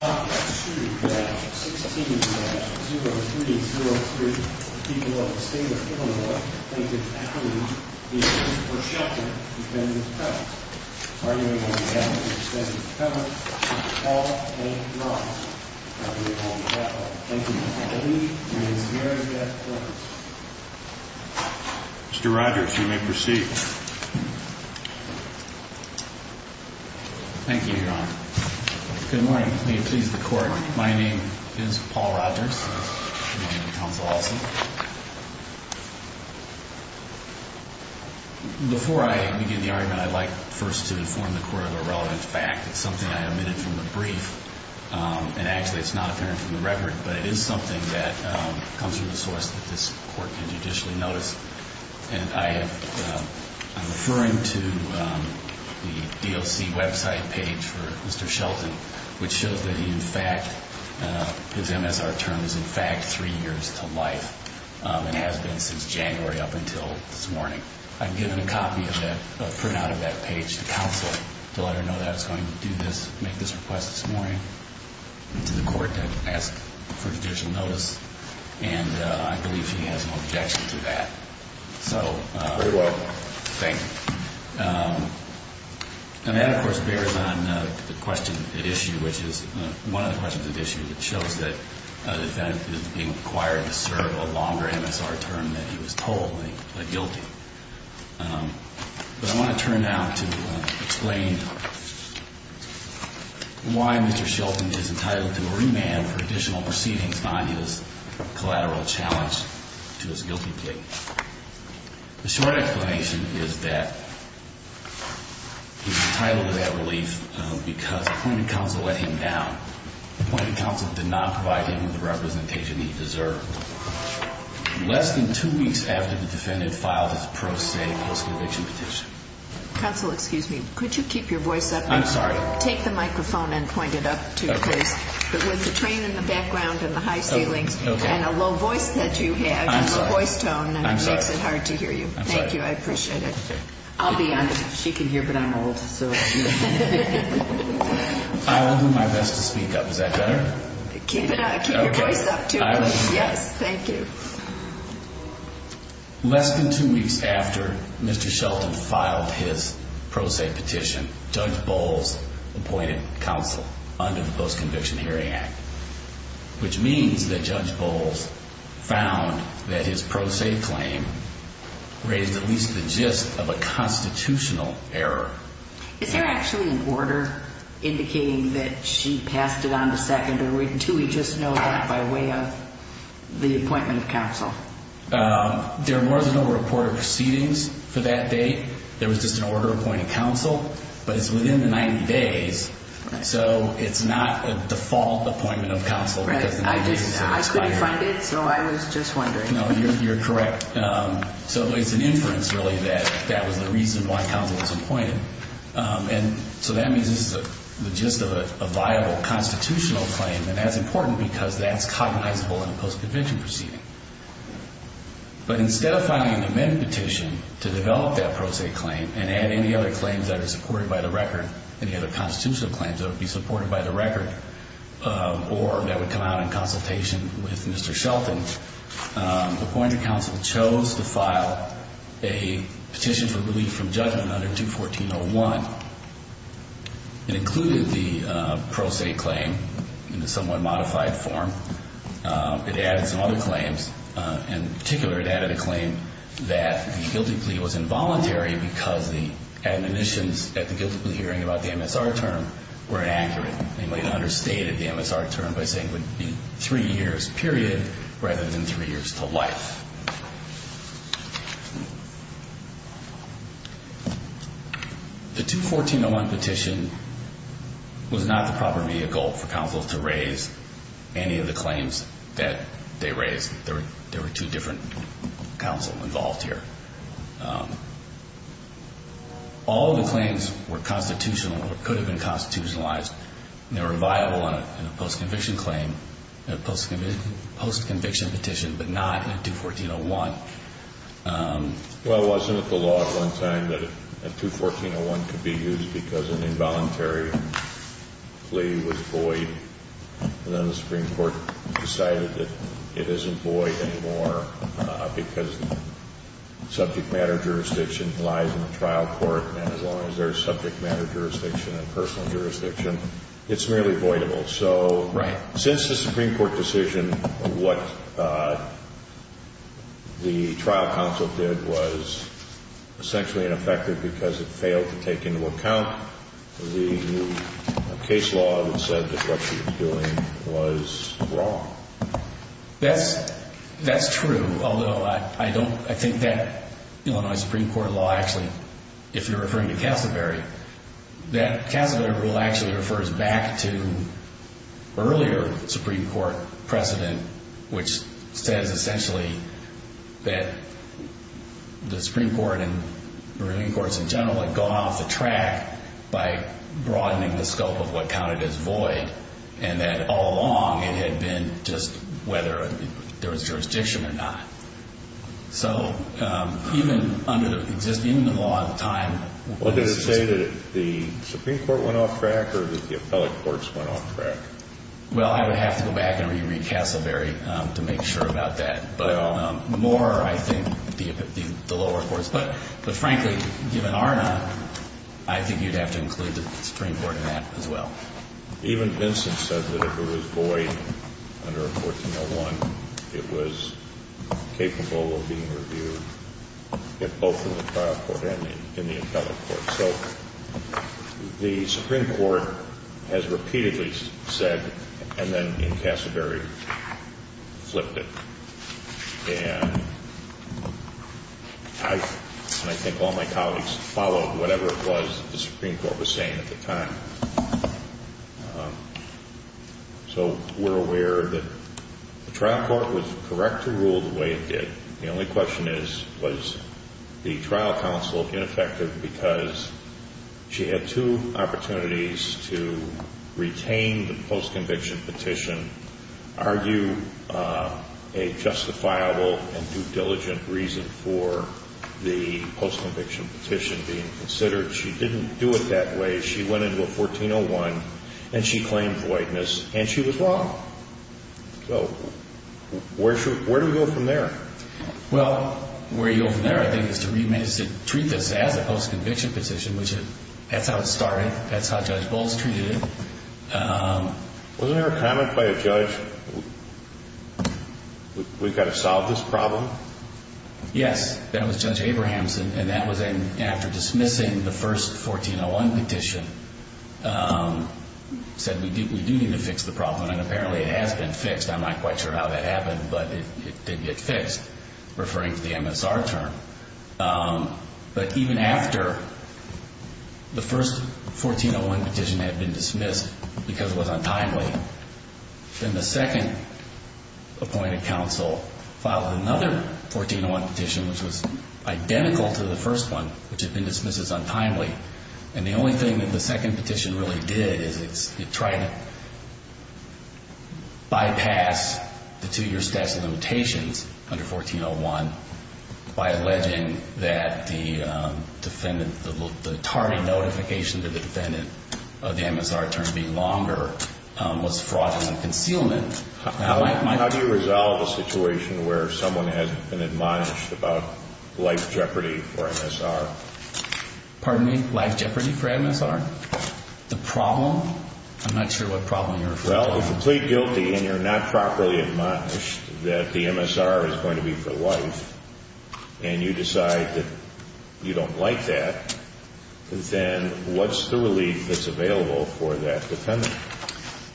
0303 people of the state of Illinois plaintiff's affidavit, v. v. v. Shelton, defendant's press. Arguing on behalf of the defendant's defense attorney, Mr. Paul A. Rodgers. I hereby call to the platform the plaintiff's affidavit and his merits at that point. Mr. Rodgers, you may proceed. Thank you, Your Honor. Good morning. May it please the Court. My name is Paul Rodgers. Good morning, Counsel Olson. Before I begin the argument, I'd like first to inform the Court of a relevant fact. It's something I omitted from the brief, and actually it's not apparent from the record, but it is something that comes from the source that this Court had judicially noticed. And I am referring to the DOC website page for Mr. Shelton, which shows that he in fact, his MSR term is in fact three years to life and has been since January up until this morning. I've given a copy of that, a printout of that page to counsel to let her know that I was going to do this, make this request this morning to the Court to ask for judicial notice, and I believe she has no objection to that. Very well. Thank you. And that, of course, bears on the question at issue, which is one of the questions at issue, which shows that the defendant is being required to serve a longer MSR term than he was told when he pled guilty. But I want to turn now to explain why Mr. Shelton is entitled to a remand for additional proceedings on his collateral challenge to his guilty plea. The short explanation is that he's entitled to that relief because appointed counsel let him down. Appointed counsel did not provide him with the representation he deserved. Less than two weeks after the defendant filed his pro se post-conviction petition. Counsel, excuse me. Could you keep your voice up? I'm sorry. Take the microphone and point it up, too, please. Okay. But with the train in the background and the high ceilings and a low voice that you have. I'm sorry. A low voice tone. I'm sorry. It makes it hard to hear you. I'm sorry. Thank you. I appreciate it. I'll be honest. She can hear, but I'm old, so. I will do my best to speak up. Is that better? Keep your voice up, too. Yes. Thank you. Less than two weeks after Mr. Shelton filed his pro se petition, Judge Bowles appointed counsel under the Post-Conviction Hearing Act. Which means that Judge Bowles found that his pro se claim raised at least the gist of a constitutional error. Is there actually an order indicating that she passed it on to secondary? Do we just know that by way of the appointment of counsel? There are more than a report of proceedings for that date. There was just an order appointing counsel. But it's within the 90 days, so it's not a default appointment of counsel. Right. I couldn't find it, so I was just wondering. No, you're correct. So it's an inference, really, that that was the reason why counsel was appointed. And so that means this is the gist of a viable constitutional claim. And that's important because that's cognizable in a post-conviction proceeding. But instead of filing an amended petition to develop that pro se claim and add any other claims that are supported by the record, any other constitutional claims that would be supported by the record or that would come out in consultation with Mr. Shelton, appointed counsel chose to file a petition for relief from judgment under 214-01. It included the pro se claim in a somewhat modified form. It added some other claims. In particular, it added a claim that the guilty plea was involuntary because the admonitions at the guilty plea hearing about the MSR term were inaccurate. It understated the MSR term by saying it would be three years, period, rather than three years to life. The 214-01 petition was not the proper media goal for counsel to raise any of the claims that they raised. There were two different counsel involved here. All of the claims were constitutional or could have been constitutionalized. They were viable in a post-conviction claim, in a post-conviction petition, but not in a 214-01. Well, wasn't it the law at one time that a 214-01 could be used because an involuntary plea was void? And then the Supreme Court decided that it isn't void anymore because subject matter jurisdiction lies in the trial court, and as long as there's subject matter jurisdiction and personal jurisdiction, it's merely voidable. So since the Supreme Court decision, what the trial counsel did was essentially ineffective because it failed to take into account the case law that said that what she was doing was wrong. That's true, although I think that Illinois Supreme Court law actually, if you're referring to Cassavary, that Cassavary rule actually refers back to earlier Supreme Court precedent, which says essentially that the Supreme Court and the ruling courts in general had gone off the track by broadening the scope of what counted as void and that all along it had been just whether there was jurisdiction or not. So even under the existing law at the time... Well, did it say that the Supreme Court went off track or that the appellate courts went off track? Well, I would have to go back and re-read Cassavary to make sure about that. But more, I think, the lower courts. But frankly, given ARNA, I think you'd have to include the Supreme Court in that as well. Even Vincent said that if it was void under 1401, it was capable of being reviewed, both in the trial court and in the appellate court. So the Supreme Court has repeatedly said and then in Cassavary flipped it. And I think all my colleagues followed whatever it was that the Supreme Court was saying at the time. So we're aware that the trial court was correct to rule the way it did. The only question is, was the trial counsel ineffective because she had two opportunities to retain the post-conviction petition, argue a justifiable and due-diligent reason for the post-conviction petition being considered. She didn't do it that way. She went into a 1401 and she claimed voidness and she was wrong. So where do we go from there? Well, where you go from there, I think, is to treat this as a post-conviction petition. That's how it started. That's how Judge Bowles treated it. Wasn't there a comment by a judge, we've got to solve this problem? Yes. That was Judge Abrahamson, and that was after dismissing the first 1401 petition, said we do need to fix the problem, and apparently it has been fixed. I'm not quite sure how that happened, but it did get fixed, referring to the MSR term. But even after the first 1401 petition had been dismissed because it was untimely, then the second appointed counsel filed another 1401 petition, which was identical to the first one, which had been dismissed as untimely. And the only thing that the second petition really did is it tried to bypass the two-year statute of limitations under 1401 by alleging that the defendant, the tardy notification to the defendant of the MSR term being longer was fraudulent concealment. How do you resolve a situation where someone has been admonished about life jeopardy for MSR? Pardon me? Life jeopardy for MSR? The problem? I'm not sure what problem you're referring to. Well, if you plead guilty and you're not properly admonished that the MSR is going to be for life, and you decide that you don't like that, then what's the relief that's available for that defendant?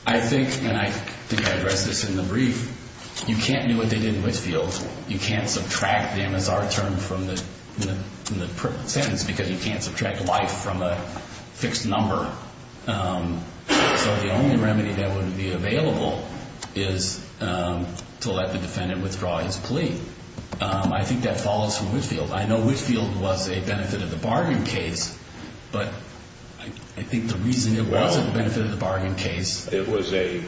I think, and I think I addressed this in the brief, you can't do what they did in Whitefield. You can't subtract the MSR term from the sentence because you can't subtract life from a fixed number. So the only remedy that would be available is to let the defendant withdraw his plea. I think that follows from Whitefield. I know Whitefield was a benefit of the bargain case, but I think the reason it wasn't a benefit of the bargain case. It was a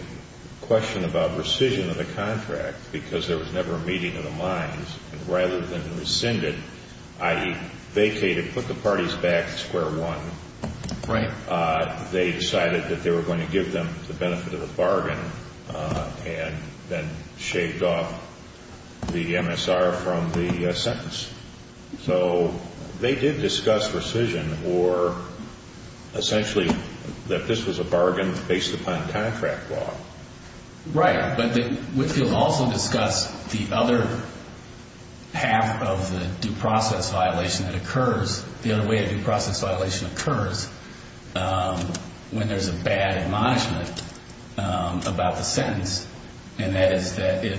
question about rescission of the contract because there was never a meeting of the minds, and rather than rescind it, i.e. vacate it, put the parties back to square one, they decided that they were going to give them the benefit of the bargain and then shaved off the MSR from the sentence. So they did discuss rescission or essentially that this was a bargain based upon contract law. Right, but Whitefield also discussed the other half of the due process violation that occurs, the other way a due process violation occurs when there's a bad admonishment about the sentence, and that is that it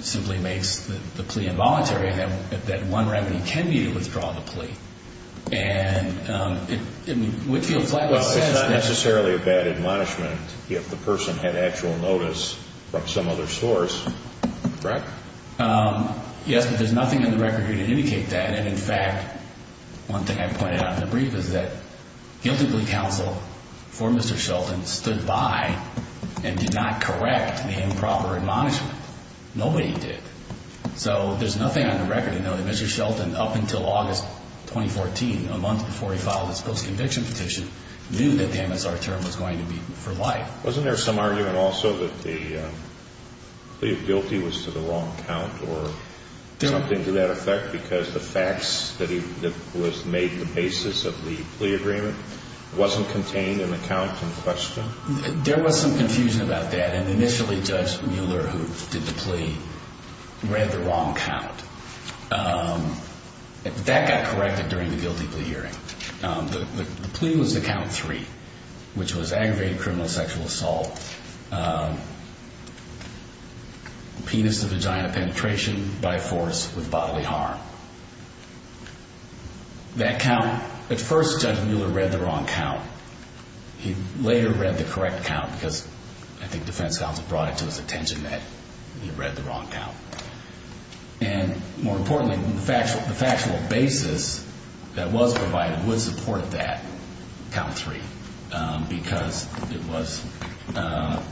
simply makes the plea involuntary and that one remedy can be to withdraw the plea. And Whitefield flatly says that. Well, it's not necessarily a bad admonishment if the person had actual notice from some other source, correct? Yes, but there's nothing in the record here to indicate that, and in fact one thing I pointed out in the brief is that guilty plea counsel for Mr. Shelton stood by and did not correct the improper admonishment. Nobody did. So there's nothing on the record to know that Mr. Shelton, up until August 2014, a month before he filed his post-conviction petition, knew that the MSR term was going to be for life. Wasn't there some argument also that the plea of guilty was to the wrong count or something to that effect because the facts that was made the basis of the plea agreement wasn't contained in the count in question? There was some confusion about that, and initially Judge Mueller, who did the plea, read the wrong count. That got corrected during the guilty plea hearing. The plea was to count three, which was aggravated criminal sexual assault, penis-to-vagina penetration by force with bodily harm. That count, at first Judge Mueller read the wrong count. He later read the correct count because I think defense counsel brought it to his attention that he read the wrong count. And more importantly, the factual basis that was provided would support that count three because it was an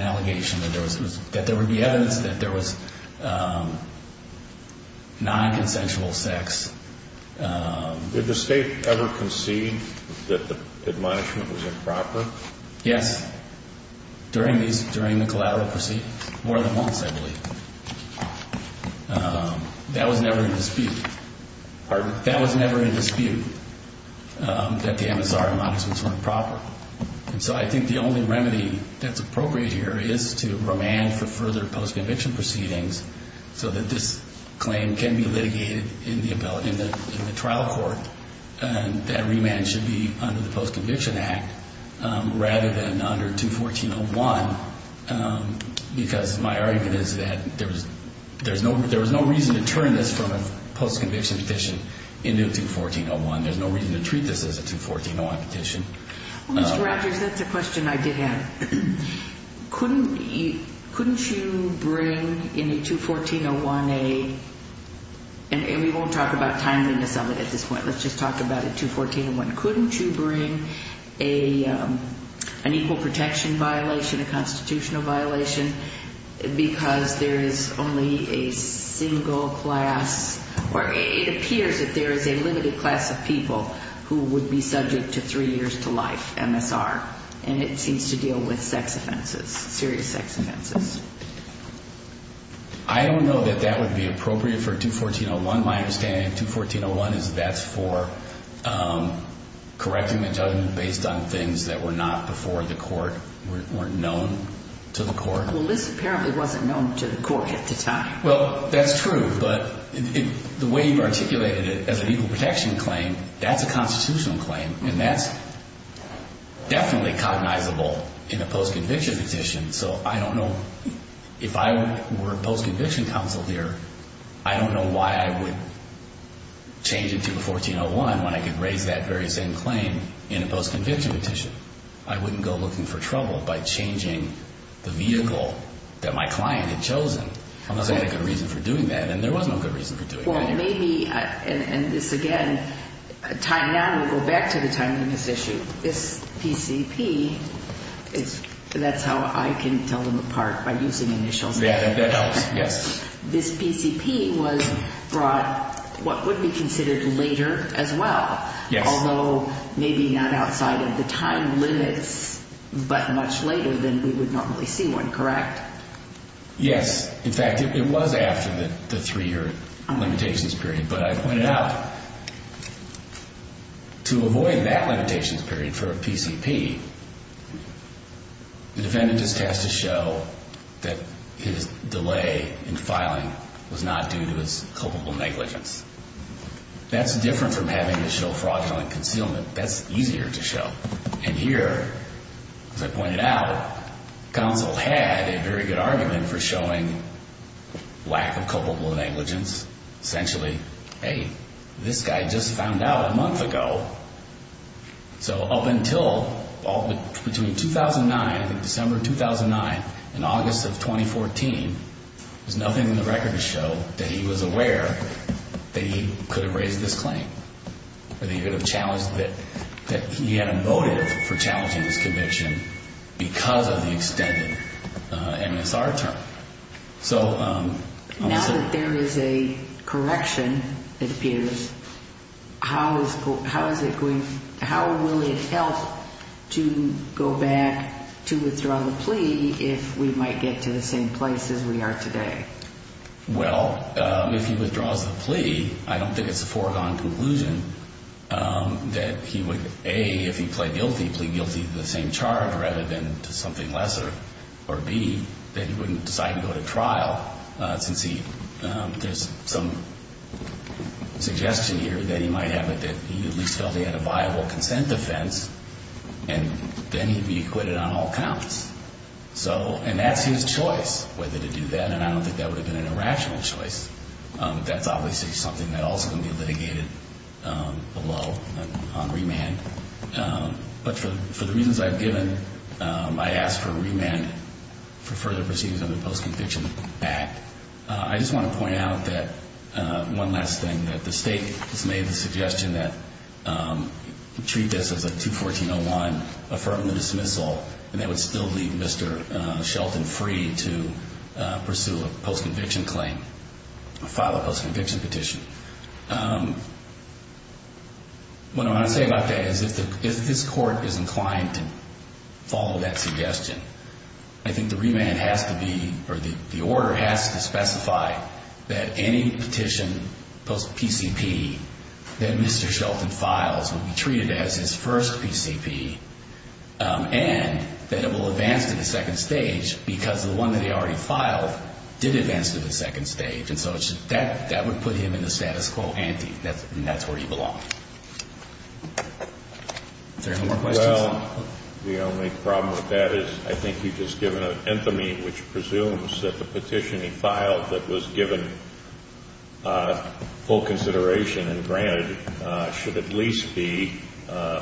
allegation that there would be evidence that there was non-consensual sex. Did the State ever concede that the admonishment was improper? Yes. During the collateral proceedings. More than once, I believe. That was never in dispute. Pardon? That was never in dispute that the MSR admonishments were improper. And so I think the only remedy that's appropriate here is to remand for further post-conviction proceedings so that this claim can be litigated in the trial court and that remand should be under the Post-Conviction Act rather than under 214.01 because my argument is that there was no reason to turn this from a post-conviction petition into a 214.01. There's no reason to treat this as a 214.01 petition. Mr. Rogers, that's a question I did have. Couldn't you bring in a 214.01, and we won't talk about timeliness of it at this point. Let's just talk about a 214.01. Couldn't you bring an equal protection violation, a constitutional violation, because there is only a single class or it appears that there is a limited class of people who would be subject to three years to life MSR, and it seems to deal with sex offenses, serious sex offenses. I don't know that that would be appropriate for 214.01. My understanding of 214.01 is that's for correcting the judgment based on things that were not before the court, weren't known to the court. Well, this apparently wasn't known to the court at the time. Well, that's true, but the way you articulated it as an equal protection claim, that's a constitutional claim, and that's definitely cognizable in a post-conviction petition. So I don't know if I were post-conviction counsel here, I don't know why I would change it to a 1401 when I could raise that very same claim in a post-conviction petition. I wouldn't go looking for trouble by changing the vehicle that my client had chosen. Unless I had a good reason for doing that, and there was no good reason for doing that. And this, again, tying down, we'll go back to the time limits issue. This PCP, that's how I can tell them apart by using initials. That helps, yes. This PCP was brought what would be considered later as well, although maybe not outside of the time limits, but much later than we would normally see one, correct? Yes. In fact, it was after the three-year limitations period, but I pointed out, to avoid that limitations period for a PCP, the defendant is tasked to show that his delay in filing was not due to his culpable negligence. That's different from having to show fraudulent concealment. That's easier to show. And here, as I pointed out, counsel had a very good argument for showing lack of culpable negligence. Essentially, hey, this guy just found out a month ago. So up until between 2009, December 2009 and August of 2014, there's nothing in the record to show that he was aware that he could have raised this claim or that he could have challenged that he had a motive for challenging this conviction because of the extended MSR term. Now that there is a correction, it appears, how will it help to go back to withdraw the plea if we might get to the same place as we are today? Well, if he withdraws the plea, I don't think it's a foregone conclusion that he would, A, if he pled guilty, plead guilty to the same charge rather than to something lesser, or, B, that he wouldn't decide to go to trial since there's some suggestion here that he might have at least felt he had a viable consent defense, and then he'd be acquitted on all counts. So, and that's his choice whether to do that, and I don't think that would have been an irrational choice. That's obviously something that also can be litigated below on remand. But for the reasons I've given, I ask for remand for further proceedings under post-conviction back. I just want to point out that one last thing, that the state has made the suggestion that treat this as a 214.01, affirm the dismissal, and they would still leave Mr. Shelton free to pursue a post-conviction claim, file a post-conviction petition. What I want to say about that is if this court is inclined to follow that suggestion, I think the remand has to be, or the order has to specify that any petition post-PCP that Mr. Shelton files would be treated as his first PCP, and that it will advance to the second stage because the one that he already filed did advance to the second stage. And so that would put him in the status quo ante, and that's where he belongs. Is there any more questions? Well, the only problem with that is I think you've just given an infamy which presumes that the petition he filed that was given full consideration and granted should at least be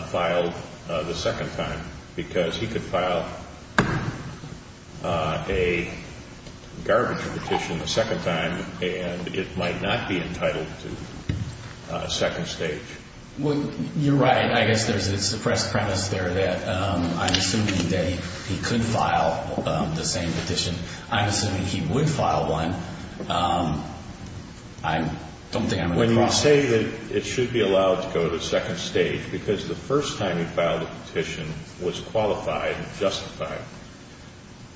filed the second time because he could file a garbage petition the second time, and it might not be entitled to a second stage. Well, you're right. I guess there's a suppressed premise there that I'm assuming that he could file the same petition. I'm assuming he would file one. I don't think I'm going to cross that. When you say that it should be allowed to go to the second stage because the first time he filed a petition was qualified and justified,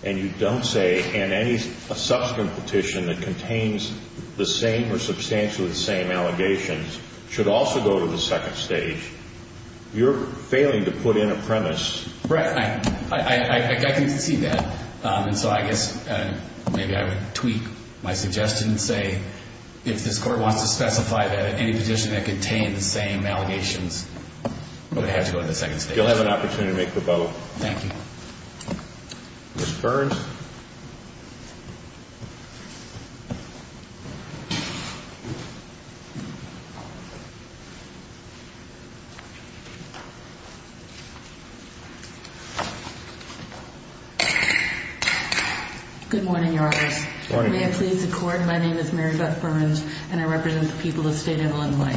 and you don't say, and any subsequent petition that contains the same or substantially the same allegations should also go to the second stage, you're failing to put in a premise. Right. I can see that. And so I guess maybe I would tweak my suggestion and say if this Court wants to specify that any petition that contains the same allegations would have to go to the second stage. You'll have an opportunity to make the vote. Thank you. Ms. Burns. Good morning, Your Honors. May it please the Court, my name is Mary Beth Burns, and I represent the people of the State of Illinois.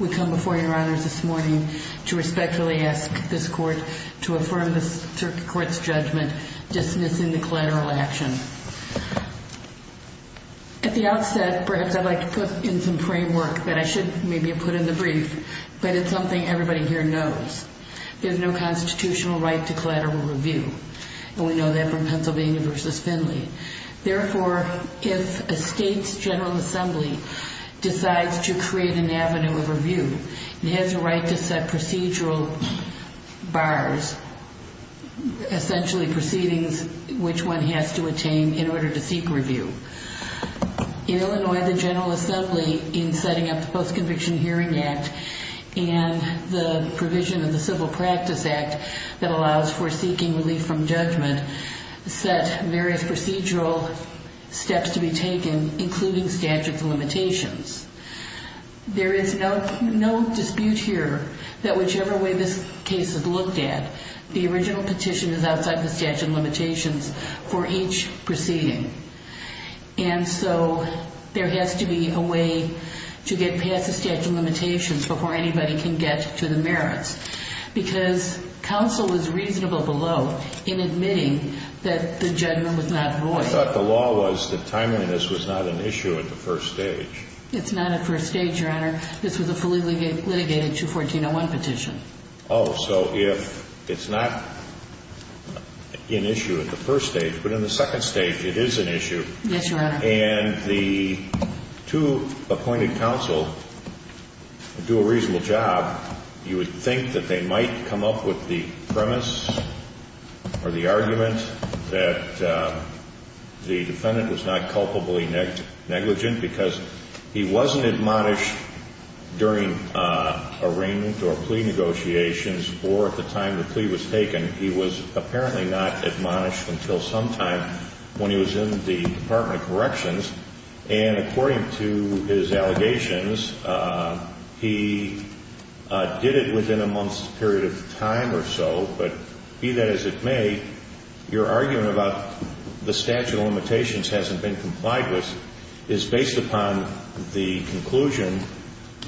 We come before you, Your Honors, this morning to respectfully ask this Court to affirm this Court's judgment dismissing the collateral action. At the outset, perhaps I'd like to put in some framework that I should maybe put in the brief, but it's something everybody here knows. There's no constitutional right to collateral review, and we know that from Pennsylvania v. Finley. Therefore, if a State's General Assembly decides to create an avenue of review, it has a right to set procedural bars, essentially proceedings which one has to attain in order to seek review. In Illinois, the General Assembly, in setting up the Post-Conviction Hearing Act and the provision of the Civil Practice Act that allows for seeking relief from judgment, set various procedures in place. There are procedural steps to be taken, including statute of limitations. There is no dispute here that whichever way this case is looked at, the original petition is outside the statute of limitations for each proceeding. And so there has to be a way to get past the statute of limitations before anybody can get to the merits. Because counsel is reasonable below in admitting that the judgment was not void. I thought the law was that timeliness was not an issue at the first stage. It's not at first stage, Your Honor. This was a fully litigated 214.01 petition. Oh, so if it's not an issue at the first stage, but in the second stage it is an issue. Yes, Your Honor. And the two appointed counsel do a reasonable job. You would think that they might come up with the premise or the argument that the defendant was not culpably negligent, because he wasn't admonished during arraignment or plea negotiations or at the time the plea was taken. He was apparently not admonished until sometime when he was in the Department of Corrections. And according to his allegations, he did it within a month's period of time or so. But be that as it may, your argument about the statute of limitations hasn't been complied with, is based upon the conclusion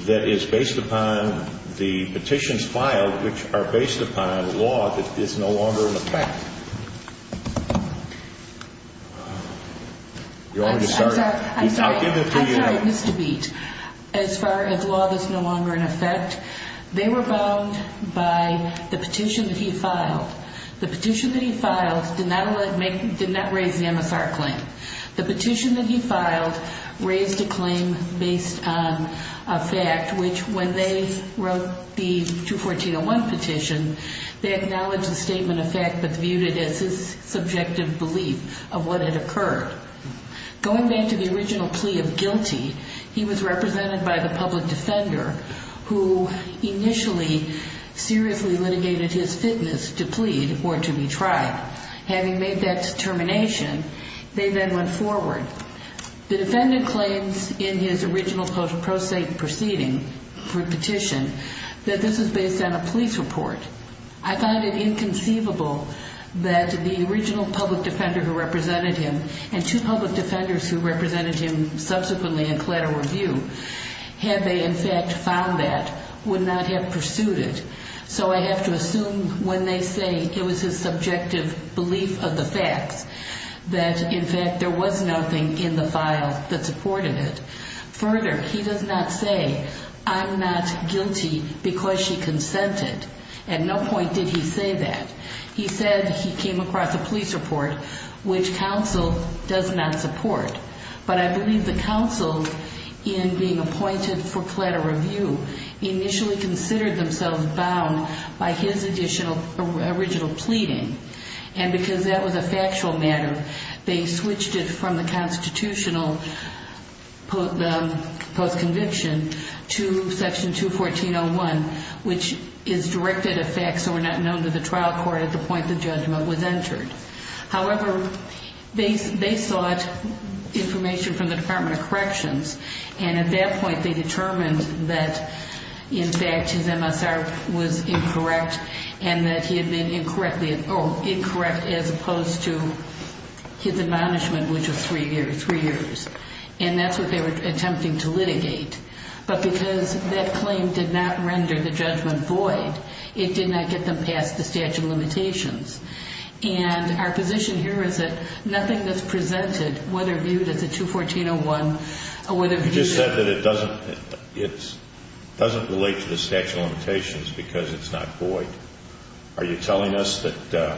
that is based upon the petitions filed, which are based upon law that is no longer in effect. I'm sorry. I'm sorry, Mr. Beat. As far as law that's no longer in effect, they were bound by the petition that he filed. The petition that he filed did not raise the MSR claim. The petition that he filed raised a claim based on a fact, which when they wrote the 214.01 petition, they acknowledged the statement of fact but viewed it as his subjective belief of what had occurred. Going back to the original plea of guilty, he was represented by the public defender, who initially seriously litigated his fitness to plead or to be tried. Having made that determination, they then went forward. The defendant claims in his original pro se proceeding for petition that this is based on a police report. I find it inconceivable that the original public defender who represented him and two public defenders who represented him subsequently in collateral review, had they in fact found that, would not have pursued it. So I have to assume when they say it was his subjective belief of the facts, that in fact there was nothing in the file that supported it. Further, he does not say, I'm not guilty because she consented. At no point did he say that. He said he came across a police report, which counsel does not support. But I believe the counsel, in being appointed for collateral review, initially considered themselves bound by his original pleading. And because that was a factual matter, they switched it from the constitutional post-conviction to section 214.01, which is directed at facts that were not known to the trial court at the point the judgment was entered. However, they sought information from the Department of Corrections, and at that point they determined that in fact his MSR was incorrect and that he had been incorrect as opposed to his admonishment, which was three years. And that's what they were attempting to litigate. But because that claim did not render the judgment void, it did not get them past the statute of limitations. And our position here is that nothing that's presented, whether viewed as a 214.01 or whether viewed as a You just said that it doesn't relate to the statute of limitations because it's not void. Are you telling us that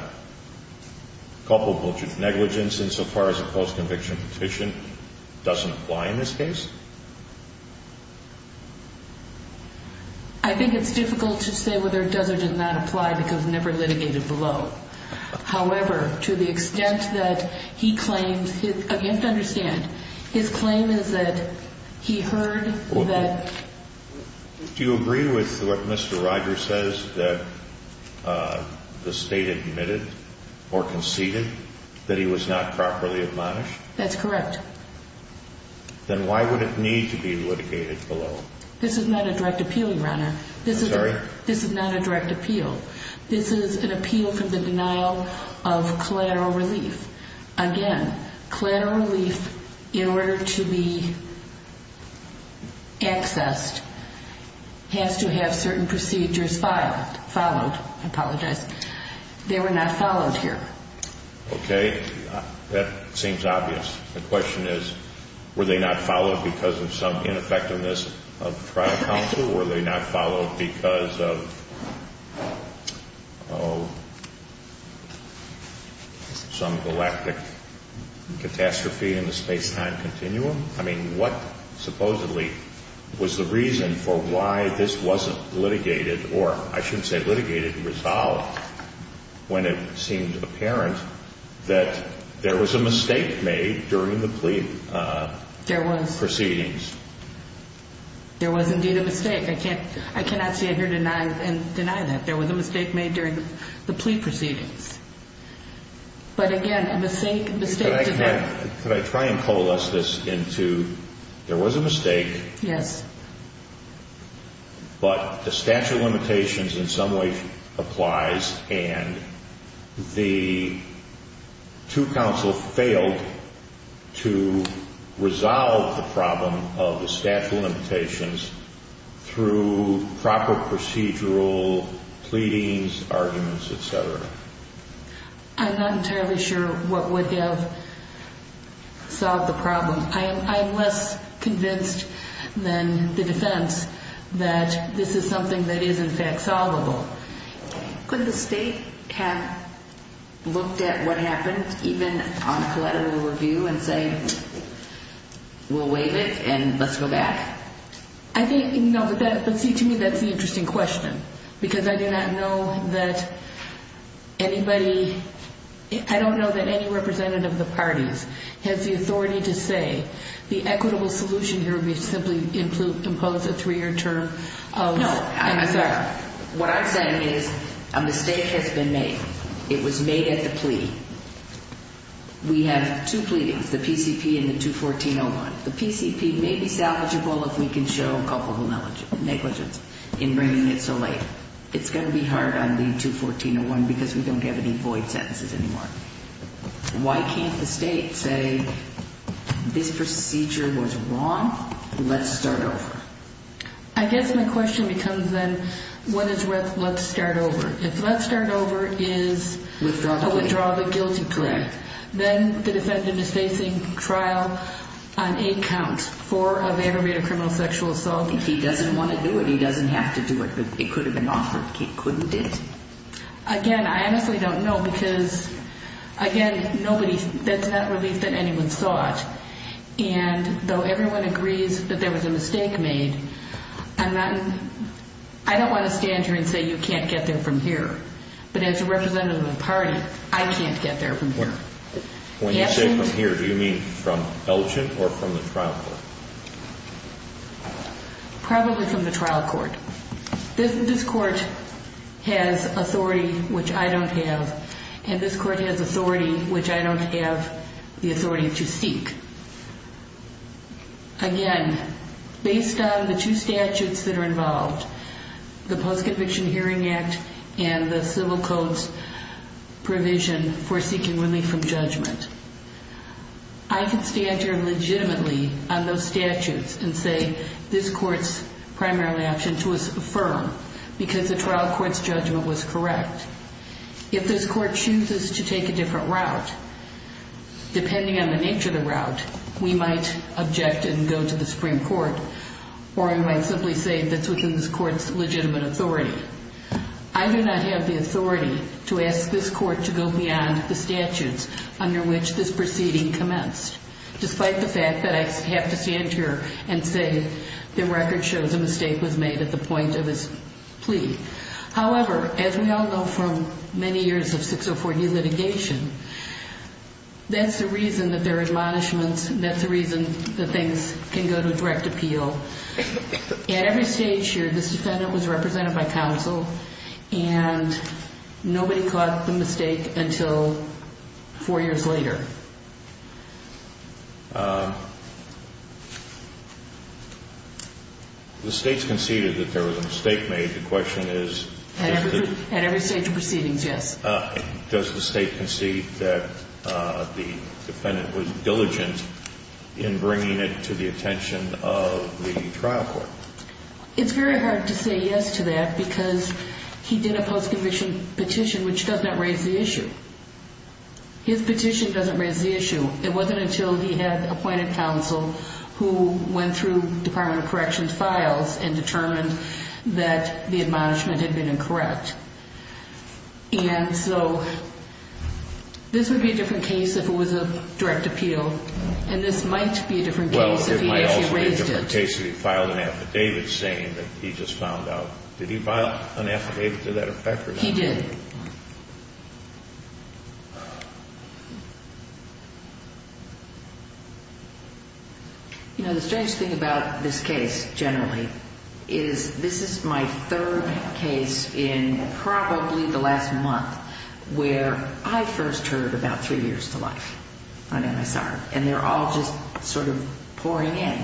culpable negligence insofar as a post-conviction petition doesn't apply in this case? I think it's difficult to say whether it does or does not apply because it was never litigated below. However, to the extent that he claims, you have to understand, his claim is that he heard that Do you agree with what Mr. Rogers says that the State admitted or conceded that he was not properly admonished? That's correct. Then why would it need to be litigated below? This is not a direct appeal, Your Honor. I'm sorry? This is not a direct appeal. This is an appeal for the denial of collateral relief. Again, collateral relief, in order to be accessed, has to have certain procedures followed. I apologize. They were not followed here. Okay. That seems obvious. The question is, were they not followed because of some ineffectiveness of trial counsel? Were they not followed because of some galactic catastrophe in the space-time continuum? I mean, what supposedly was the reason for why this wasn't litigated, or I shouldn't say litigated, resolved, when it seemed apparent that there was a mistake made during the plea proceedings? There was. There was indeed a mistake. I cannot stand here and deny that. There was a mistake made during the plea proceedings. But again, a mistake did not Could I try and coalesce this into, there was a mistake. Yes. But the statute of limitations in some way applies, and the two counsel failed to resolve the problem of the statute of limitations through proper procedural pleadings, arguments, et cetera. I'm not entirely sure what would have solved the problem. I am less convinced than the defense that this is something that is, in fact, solvable. Could the state have looked at what happened, even on a collateral review, and say, we'll waive it and let's go back? I think, no, but see, to me that's the interesting question, because I do not know that anybody, I don't know that any representative of the parties has the authority to say, the equitable solution here would be simply impose a three-year term of MSR. No. What I'm saying is a mistake has been made. It was made at the plea. We have two pleadings, the PCP and the 214-01. The PCP may be salvageable if we can show culpable negligence in bringing it so late. It's going to be hard on the 214-01 because we don't have any void sentences anymore. Why can't the state say, this procedure was wrong, let's start over? I guess my question becomes then, what is with let's start over? If let's start over is a withdrawal of a guilty plea, then the defendant is facing trial on eight counts for an aggravated criminal sexual assault. If he doesn't want to do it, he doesn't have to do it. It could have been offered. He couldn't have did it. Again, I honestly don't know because, again, nobody, that's not relief that anyone thought. And though everyone agrees that there was a mistake made, I'm not, I don't want to stand here and say you can't get there from here. But as a representative of the party, I can't get there from here. When you say from here, do you mean from Elgin or from the trial court? Probably from the trial court. This court has authority which I don't have, and this court has authority which I don't have the authority to seek. Again, based on the two statutes that are involved, the Post-Conviction Hearing Act and the civil codes provision for seeking relief from judgment, I can stand here legitimately on those statutes and say this court's primarily option to affirm because the trial court's judgment was correct. If this court chooses to take a different route, depending on the nature of the route, we might object and go to the Supreme Court, or we might simply say that's within this court's legitimate authority. I do not have the authority to ask this court to go beyond the statutes under which this proceeding commenced, despite the fact that I have to stand here and say the record shows a mistake was made at the point of this plea. However, as we all know from many years of 604D litigation, that's the reason that there are admonishments, and that's the reason that things can go to a direct appeal. At every stage here, this defendant was represented by counsel, and nobody caught the mistake until four years later. The state's conceded that there was a mistake made. The question is... At every stage of proceedings, yes. Does the state concede that the defendant was diligent in bringing it to the attention of the trial court? It's very hard to say yes to that because he did a post-conviction petition which does not raise the issue. His petition doesn't raise the issue. It wasn't until he had appointed counsel who went through Department of Corrections files and determined that the admonishment had been incorrect. And so this would be a different case if it was a direct appeal, and this might be a different case if he actually raised it. Well, it might also be a different case if he filed an affidavit saying that he just found out. Did he file an affidavit to that effect? He did. You know, the strange thing about this case generally is this is my third case in probably the last month where I first heard about three years to life on MSR, and they're all just sort of pouring in.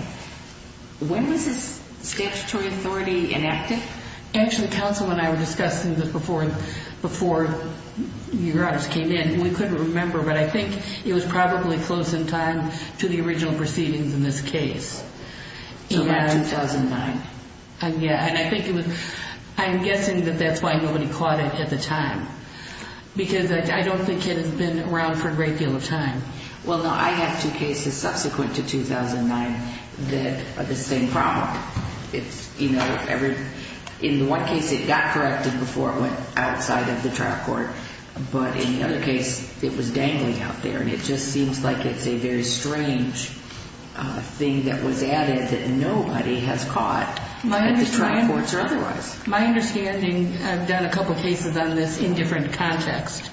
When was this statutory authority enacted? Actually, counsel and I were discussing this before, before you guys came in, and we couldn't remember, but I think it was probably close in time to the original proceedings in this case. So about 2009? Yeah, and I think it was... I'm guessing that that's why nobody caught it at the time because I don't think it has been around for a great deal of time. Well, no, I have two cases subsequent to 2009 that are the same problem. You know, in one case it got corrected before it went outside of the trial court, but in the other case it was dangling out there, and it just seems like it's a very strange thing that was added that nobody has caught at the trial courts or otherwise. My understanding, I've done a couple cases on this in different contexts,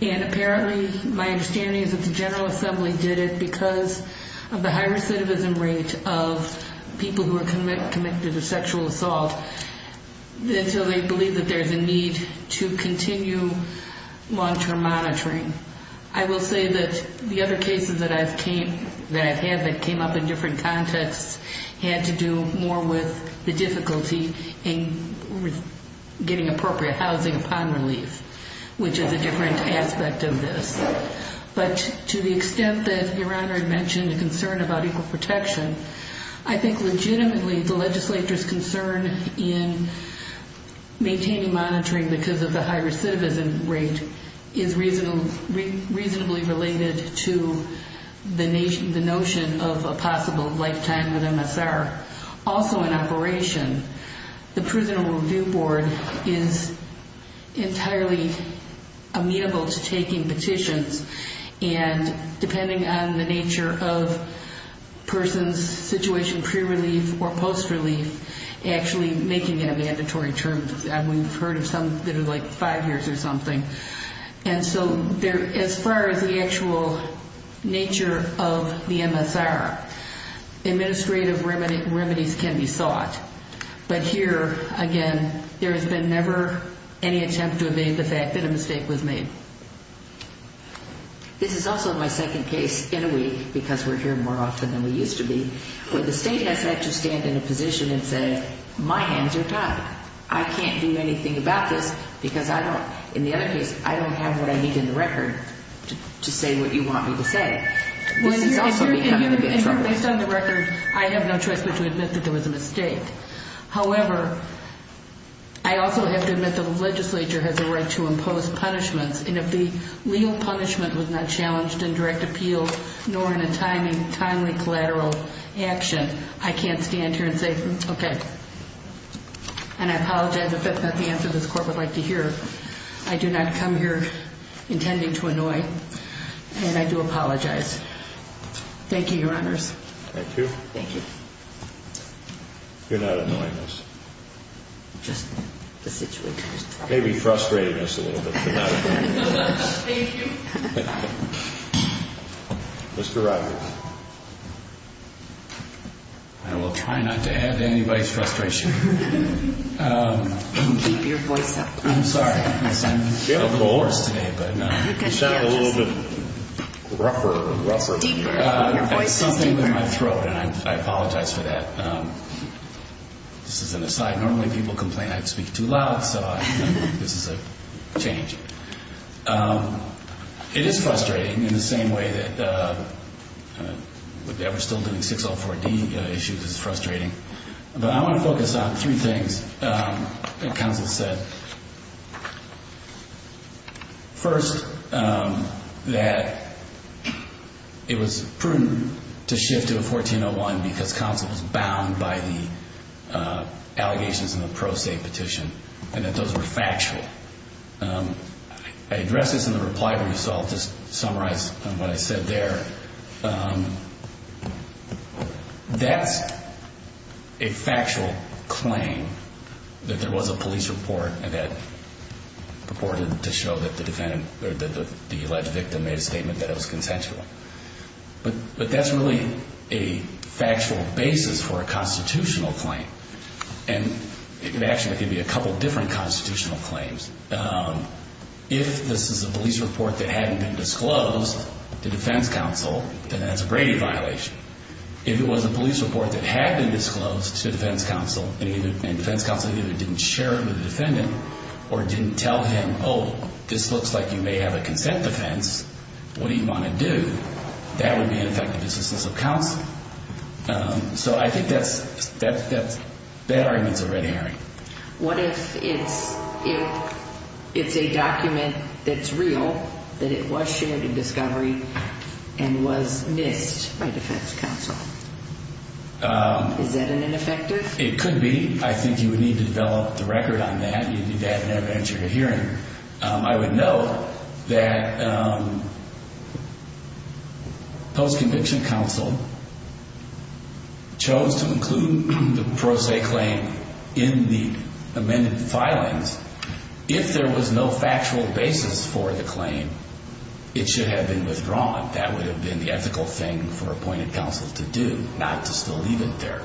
and apparently my understanding is that the General Assembly did it because of the high recidivism rate of people who are committed to sexual assault until they believe that there's a need to continue long-term monitoring. I will say that the other cases that I've had that came up in different contexts had to do more with the difficulty in getting appropriate housing upon relief, which is a different aspect of this. But to the extent that Your Honor had mentioned a concern about equal protection, I think legitimately the legislature's concern in maintaining monitoring because of the high recidivism rate is reasonably related to the notion of a possible lifetime with MSR also in operation. The Prisoner Review Board is entirely amenable to taking petitions, and depending on the nature of a person's situation pre-relief or post-relief, actually making it a mandatory term. We've heard of some that are like five years or something. And so as far as the actual nature of the MSR, administrative remedies can be sought. But here, again, there has been never any attempt to evade the fact that a mistake was made. This is also my second case in a week, because we're here more often than we used to be, where the state has had to stand in a position and say, my hands are tied. I can't do anything about this because I don't, in the other case, I don't have what I need in the record to say what you want me to say. This is also becoming a bit troubling. Based on the record, I have no choice but to admit that there was a mistake. However, I also have to admit that the legislature has a right to impose punishments, and if the legal punishment was not challenged in direct appeal nor in a timely collateral action, I can't stand here and say, okay. And I apologize if that's not the answer this Court would like to hear. I do not come here intending to annoy, and I do apologize. Thank you, Your Honors. Thank you. Thank you. You're not annoying us. Just the situation. Maybe frustrating us a little bit, but not annoying us. Thank you. Mr. Rogers. I will try not to add to anybody's frustration. Keep your voice up. I'm sorry. I sound a little hoarse today. You sound a little bit rougher. Deeper. Your voice is deeper. It's something with my throat, and I apologize for that. This is an aside. Normally people complain I speak too loud, so this is a change. It is frustrating in the same way that we're still doing 604D issues is frustrating. But I want to focus on three things that counsel said. First, that it was prudent to shift to a 1401 because counsel was bound by the allegations in the pro se petition and that those were factual. I addressed this in the reply, so I'll just summarize what I said there. That's a factual claim that there was a police report that purported to show that the defendant or the alleged victim made a statement that it was consensual. But that's really a factual basis for a constitutional claim. And actually, I'll give you a couple of different constitutional claims. If this is a police report that hadn't been disclosed to defense counsel, then that's a Brady violation. If it was a police report that had been disclosed to defense counsel and defense counsel either didn't share it with the defendant or didn't tell him, oh, this looks like you may have a consent defense, what do you want to do? That would be an effective dismissal of counsel. So I think that argument's a red herring. What if it's a document that's real, that it was shared in discovery and was missed by defense counsel? Is that an ineffective? It could be. I think you would need to develop the record on that. You need to have an evidence you're hearing. I would note that post-conviction counsel chose to include the pro se claim in the amended filings. If there was no factual basis for the claim, it should have been withdrawn. That would have been the ethical thing for appointed counsel to do, not to still leave it there.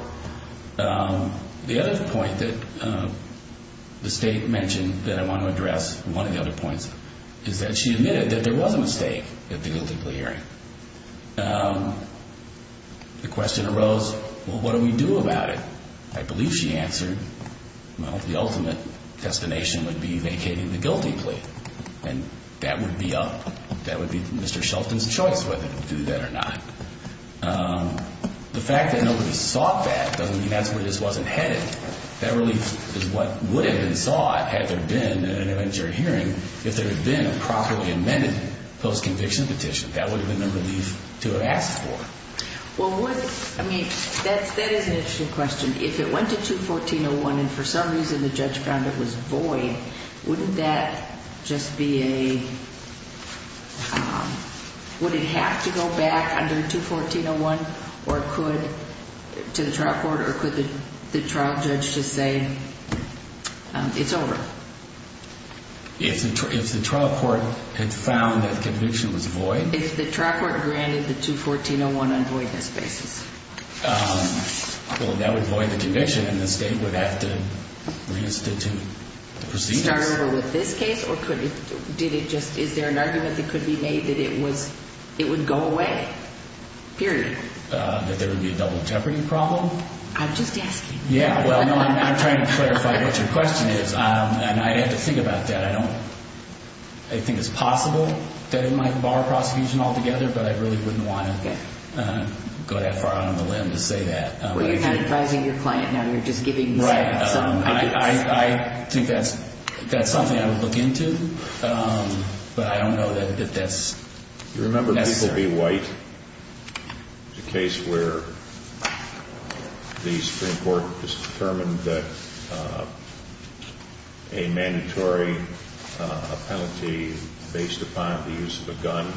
The other point that the State mentioned that I want to address, one of the other points, is that she admitted that there was a mistake at the guilty plea hearing. The question arose, well, what do we do about it? I believe she answered, well, the ultimate destination would be vacating the guilty plea. And that would be up. That would be Mr. Shelton's choice whether to do that or not. The fact that nobody sought that doesn't mean that's where this wasn't headed. That relief is what would have been sought had there been an interventionary hearing if there had been a properly amended post-conviction petition. That would have been the relief to have asked for. Well, I mean, that is an interesting question. If it went to 214.01 and for some reason the judge found it was void, wouldn't that just be a, would it have to go back under 214.01 to the trial court or could the trial judge just say it's over? If the trial court had found that conviction was void. If the trial court granted the 214.01 on a voidness basis. Well, that would void the conviction and the state would have to reinstitute the proceedings. Start over with this case or could it, did it just, is there an argument that could be made that it was, it would go away, period? That there would be a double jeopardy problem? I'm just asking. Yeah, well, no, I'm trying to clarify what your question is. And I have to think about that. I don't, I think it's possible that it might bar prosecution altogether, but I really wouldn't want to go that far out on a limb to say that. Well, you're kind of advising your client now. You're just giving some advice. Right. I think that's something I would look into, but I don't know that that's necessary. Do you remember Bickel v. White? The case where the Supreme Court determined that a mandatory penalty based upon the use of a gun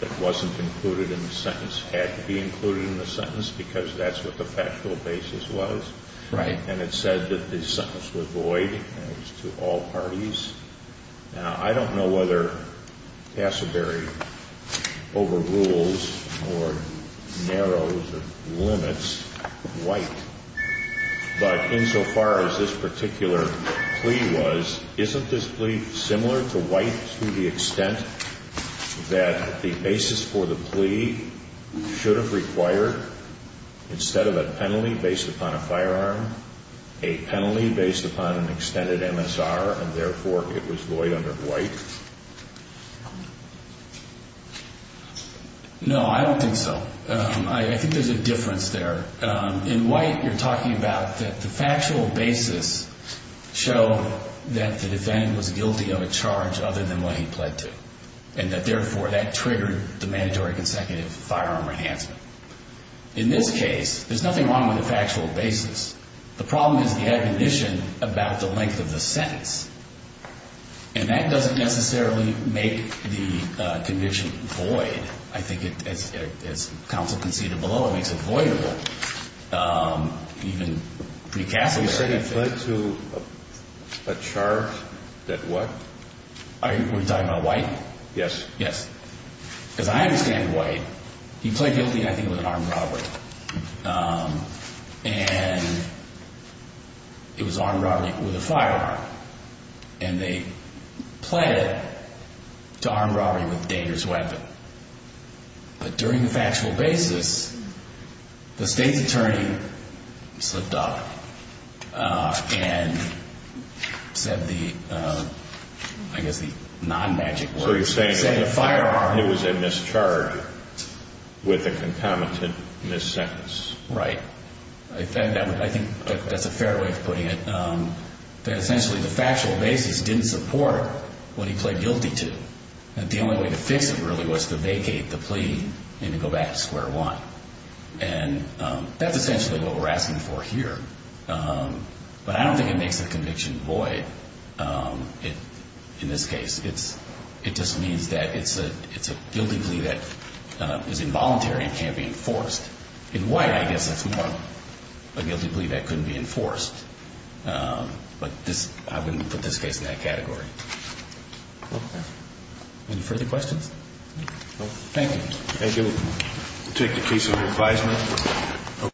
that wasn't included in the sentence had to be included in the sentence because that's what the factual basis was. Right. And it said that the sentence was void and it was to all parties. Now, I don't know whether Cassidary overrules or narrows or limits White, but insofar as this particular plea was, isn't this plea similar to White to the extent that the basis for the plea should have required, instead of a penalty based upon a firearm, a penalty based upon an extended MSR, and therefore it was void under White? No, I don't think so. I think there's a difference there. In White, you're talking about the factual basis show that the defendant was guilty of a charge other than what he pled to, and that, therefore, that triggered the mandatory consecutive firearm enhancement. In this case, there's nothing wrong with the factual basis. The problem is the admonition about the length of the sentence, and that doesn't necessarily make the conviction void. I think as counsel conceded below, I mean, it's avoidable, even pre-Cassidary. You said he pled to a charge that what? Are you talking about White? Yes. Yes. As I understand White, he pled guilty, I think, of an armed robbery, and it was an armed robbery with a firearm, and they pled it to armed robbery with a dangerous weapon. But during the factual basis, the state's attorney slipped up and said the, I guess the non-magic words. So you're saying it was a mischarge with a concomitant miss sentence. Right. I think that's a fair way of putting it. Essentially, the factual basis didn't support what he pled guilty to. The only way to fix it really was to vacate the plea and to go back to square one. And that's essentially what we're asking for here. But I don't think it makes the conviction void in this case. It just means that it's a guilty plea that is involuntary and can't be enforced. In White, I guess that's more a guilty plea that couldn't be enforced. But I wouldn't put this case in that category. Okay. Any further questions? Thank you. Thank you. We'll take the case under advisement.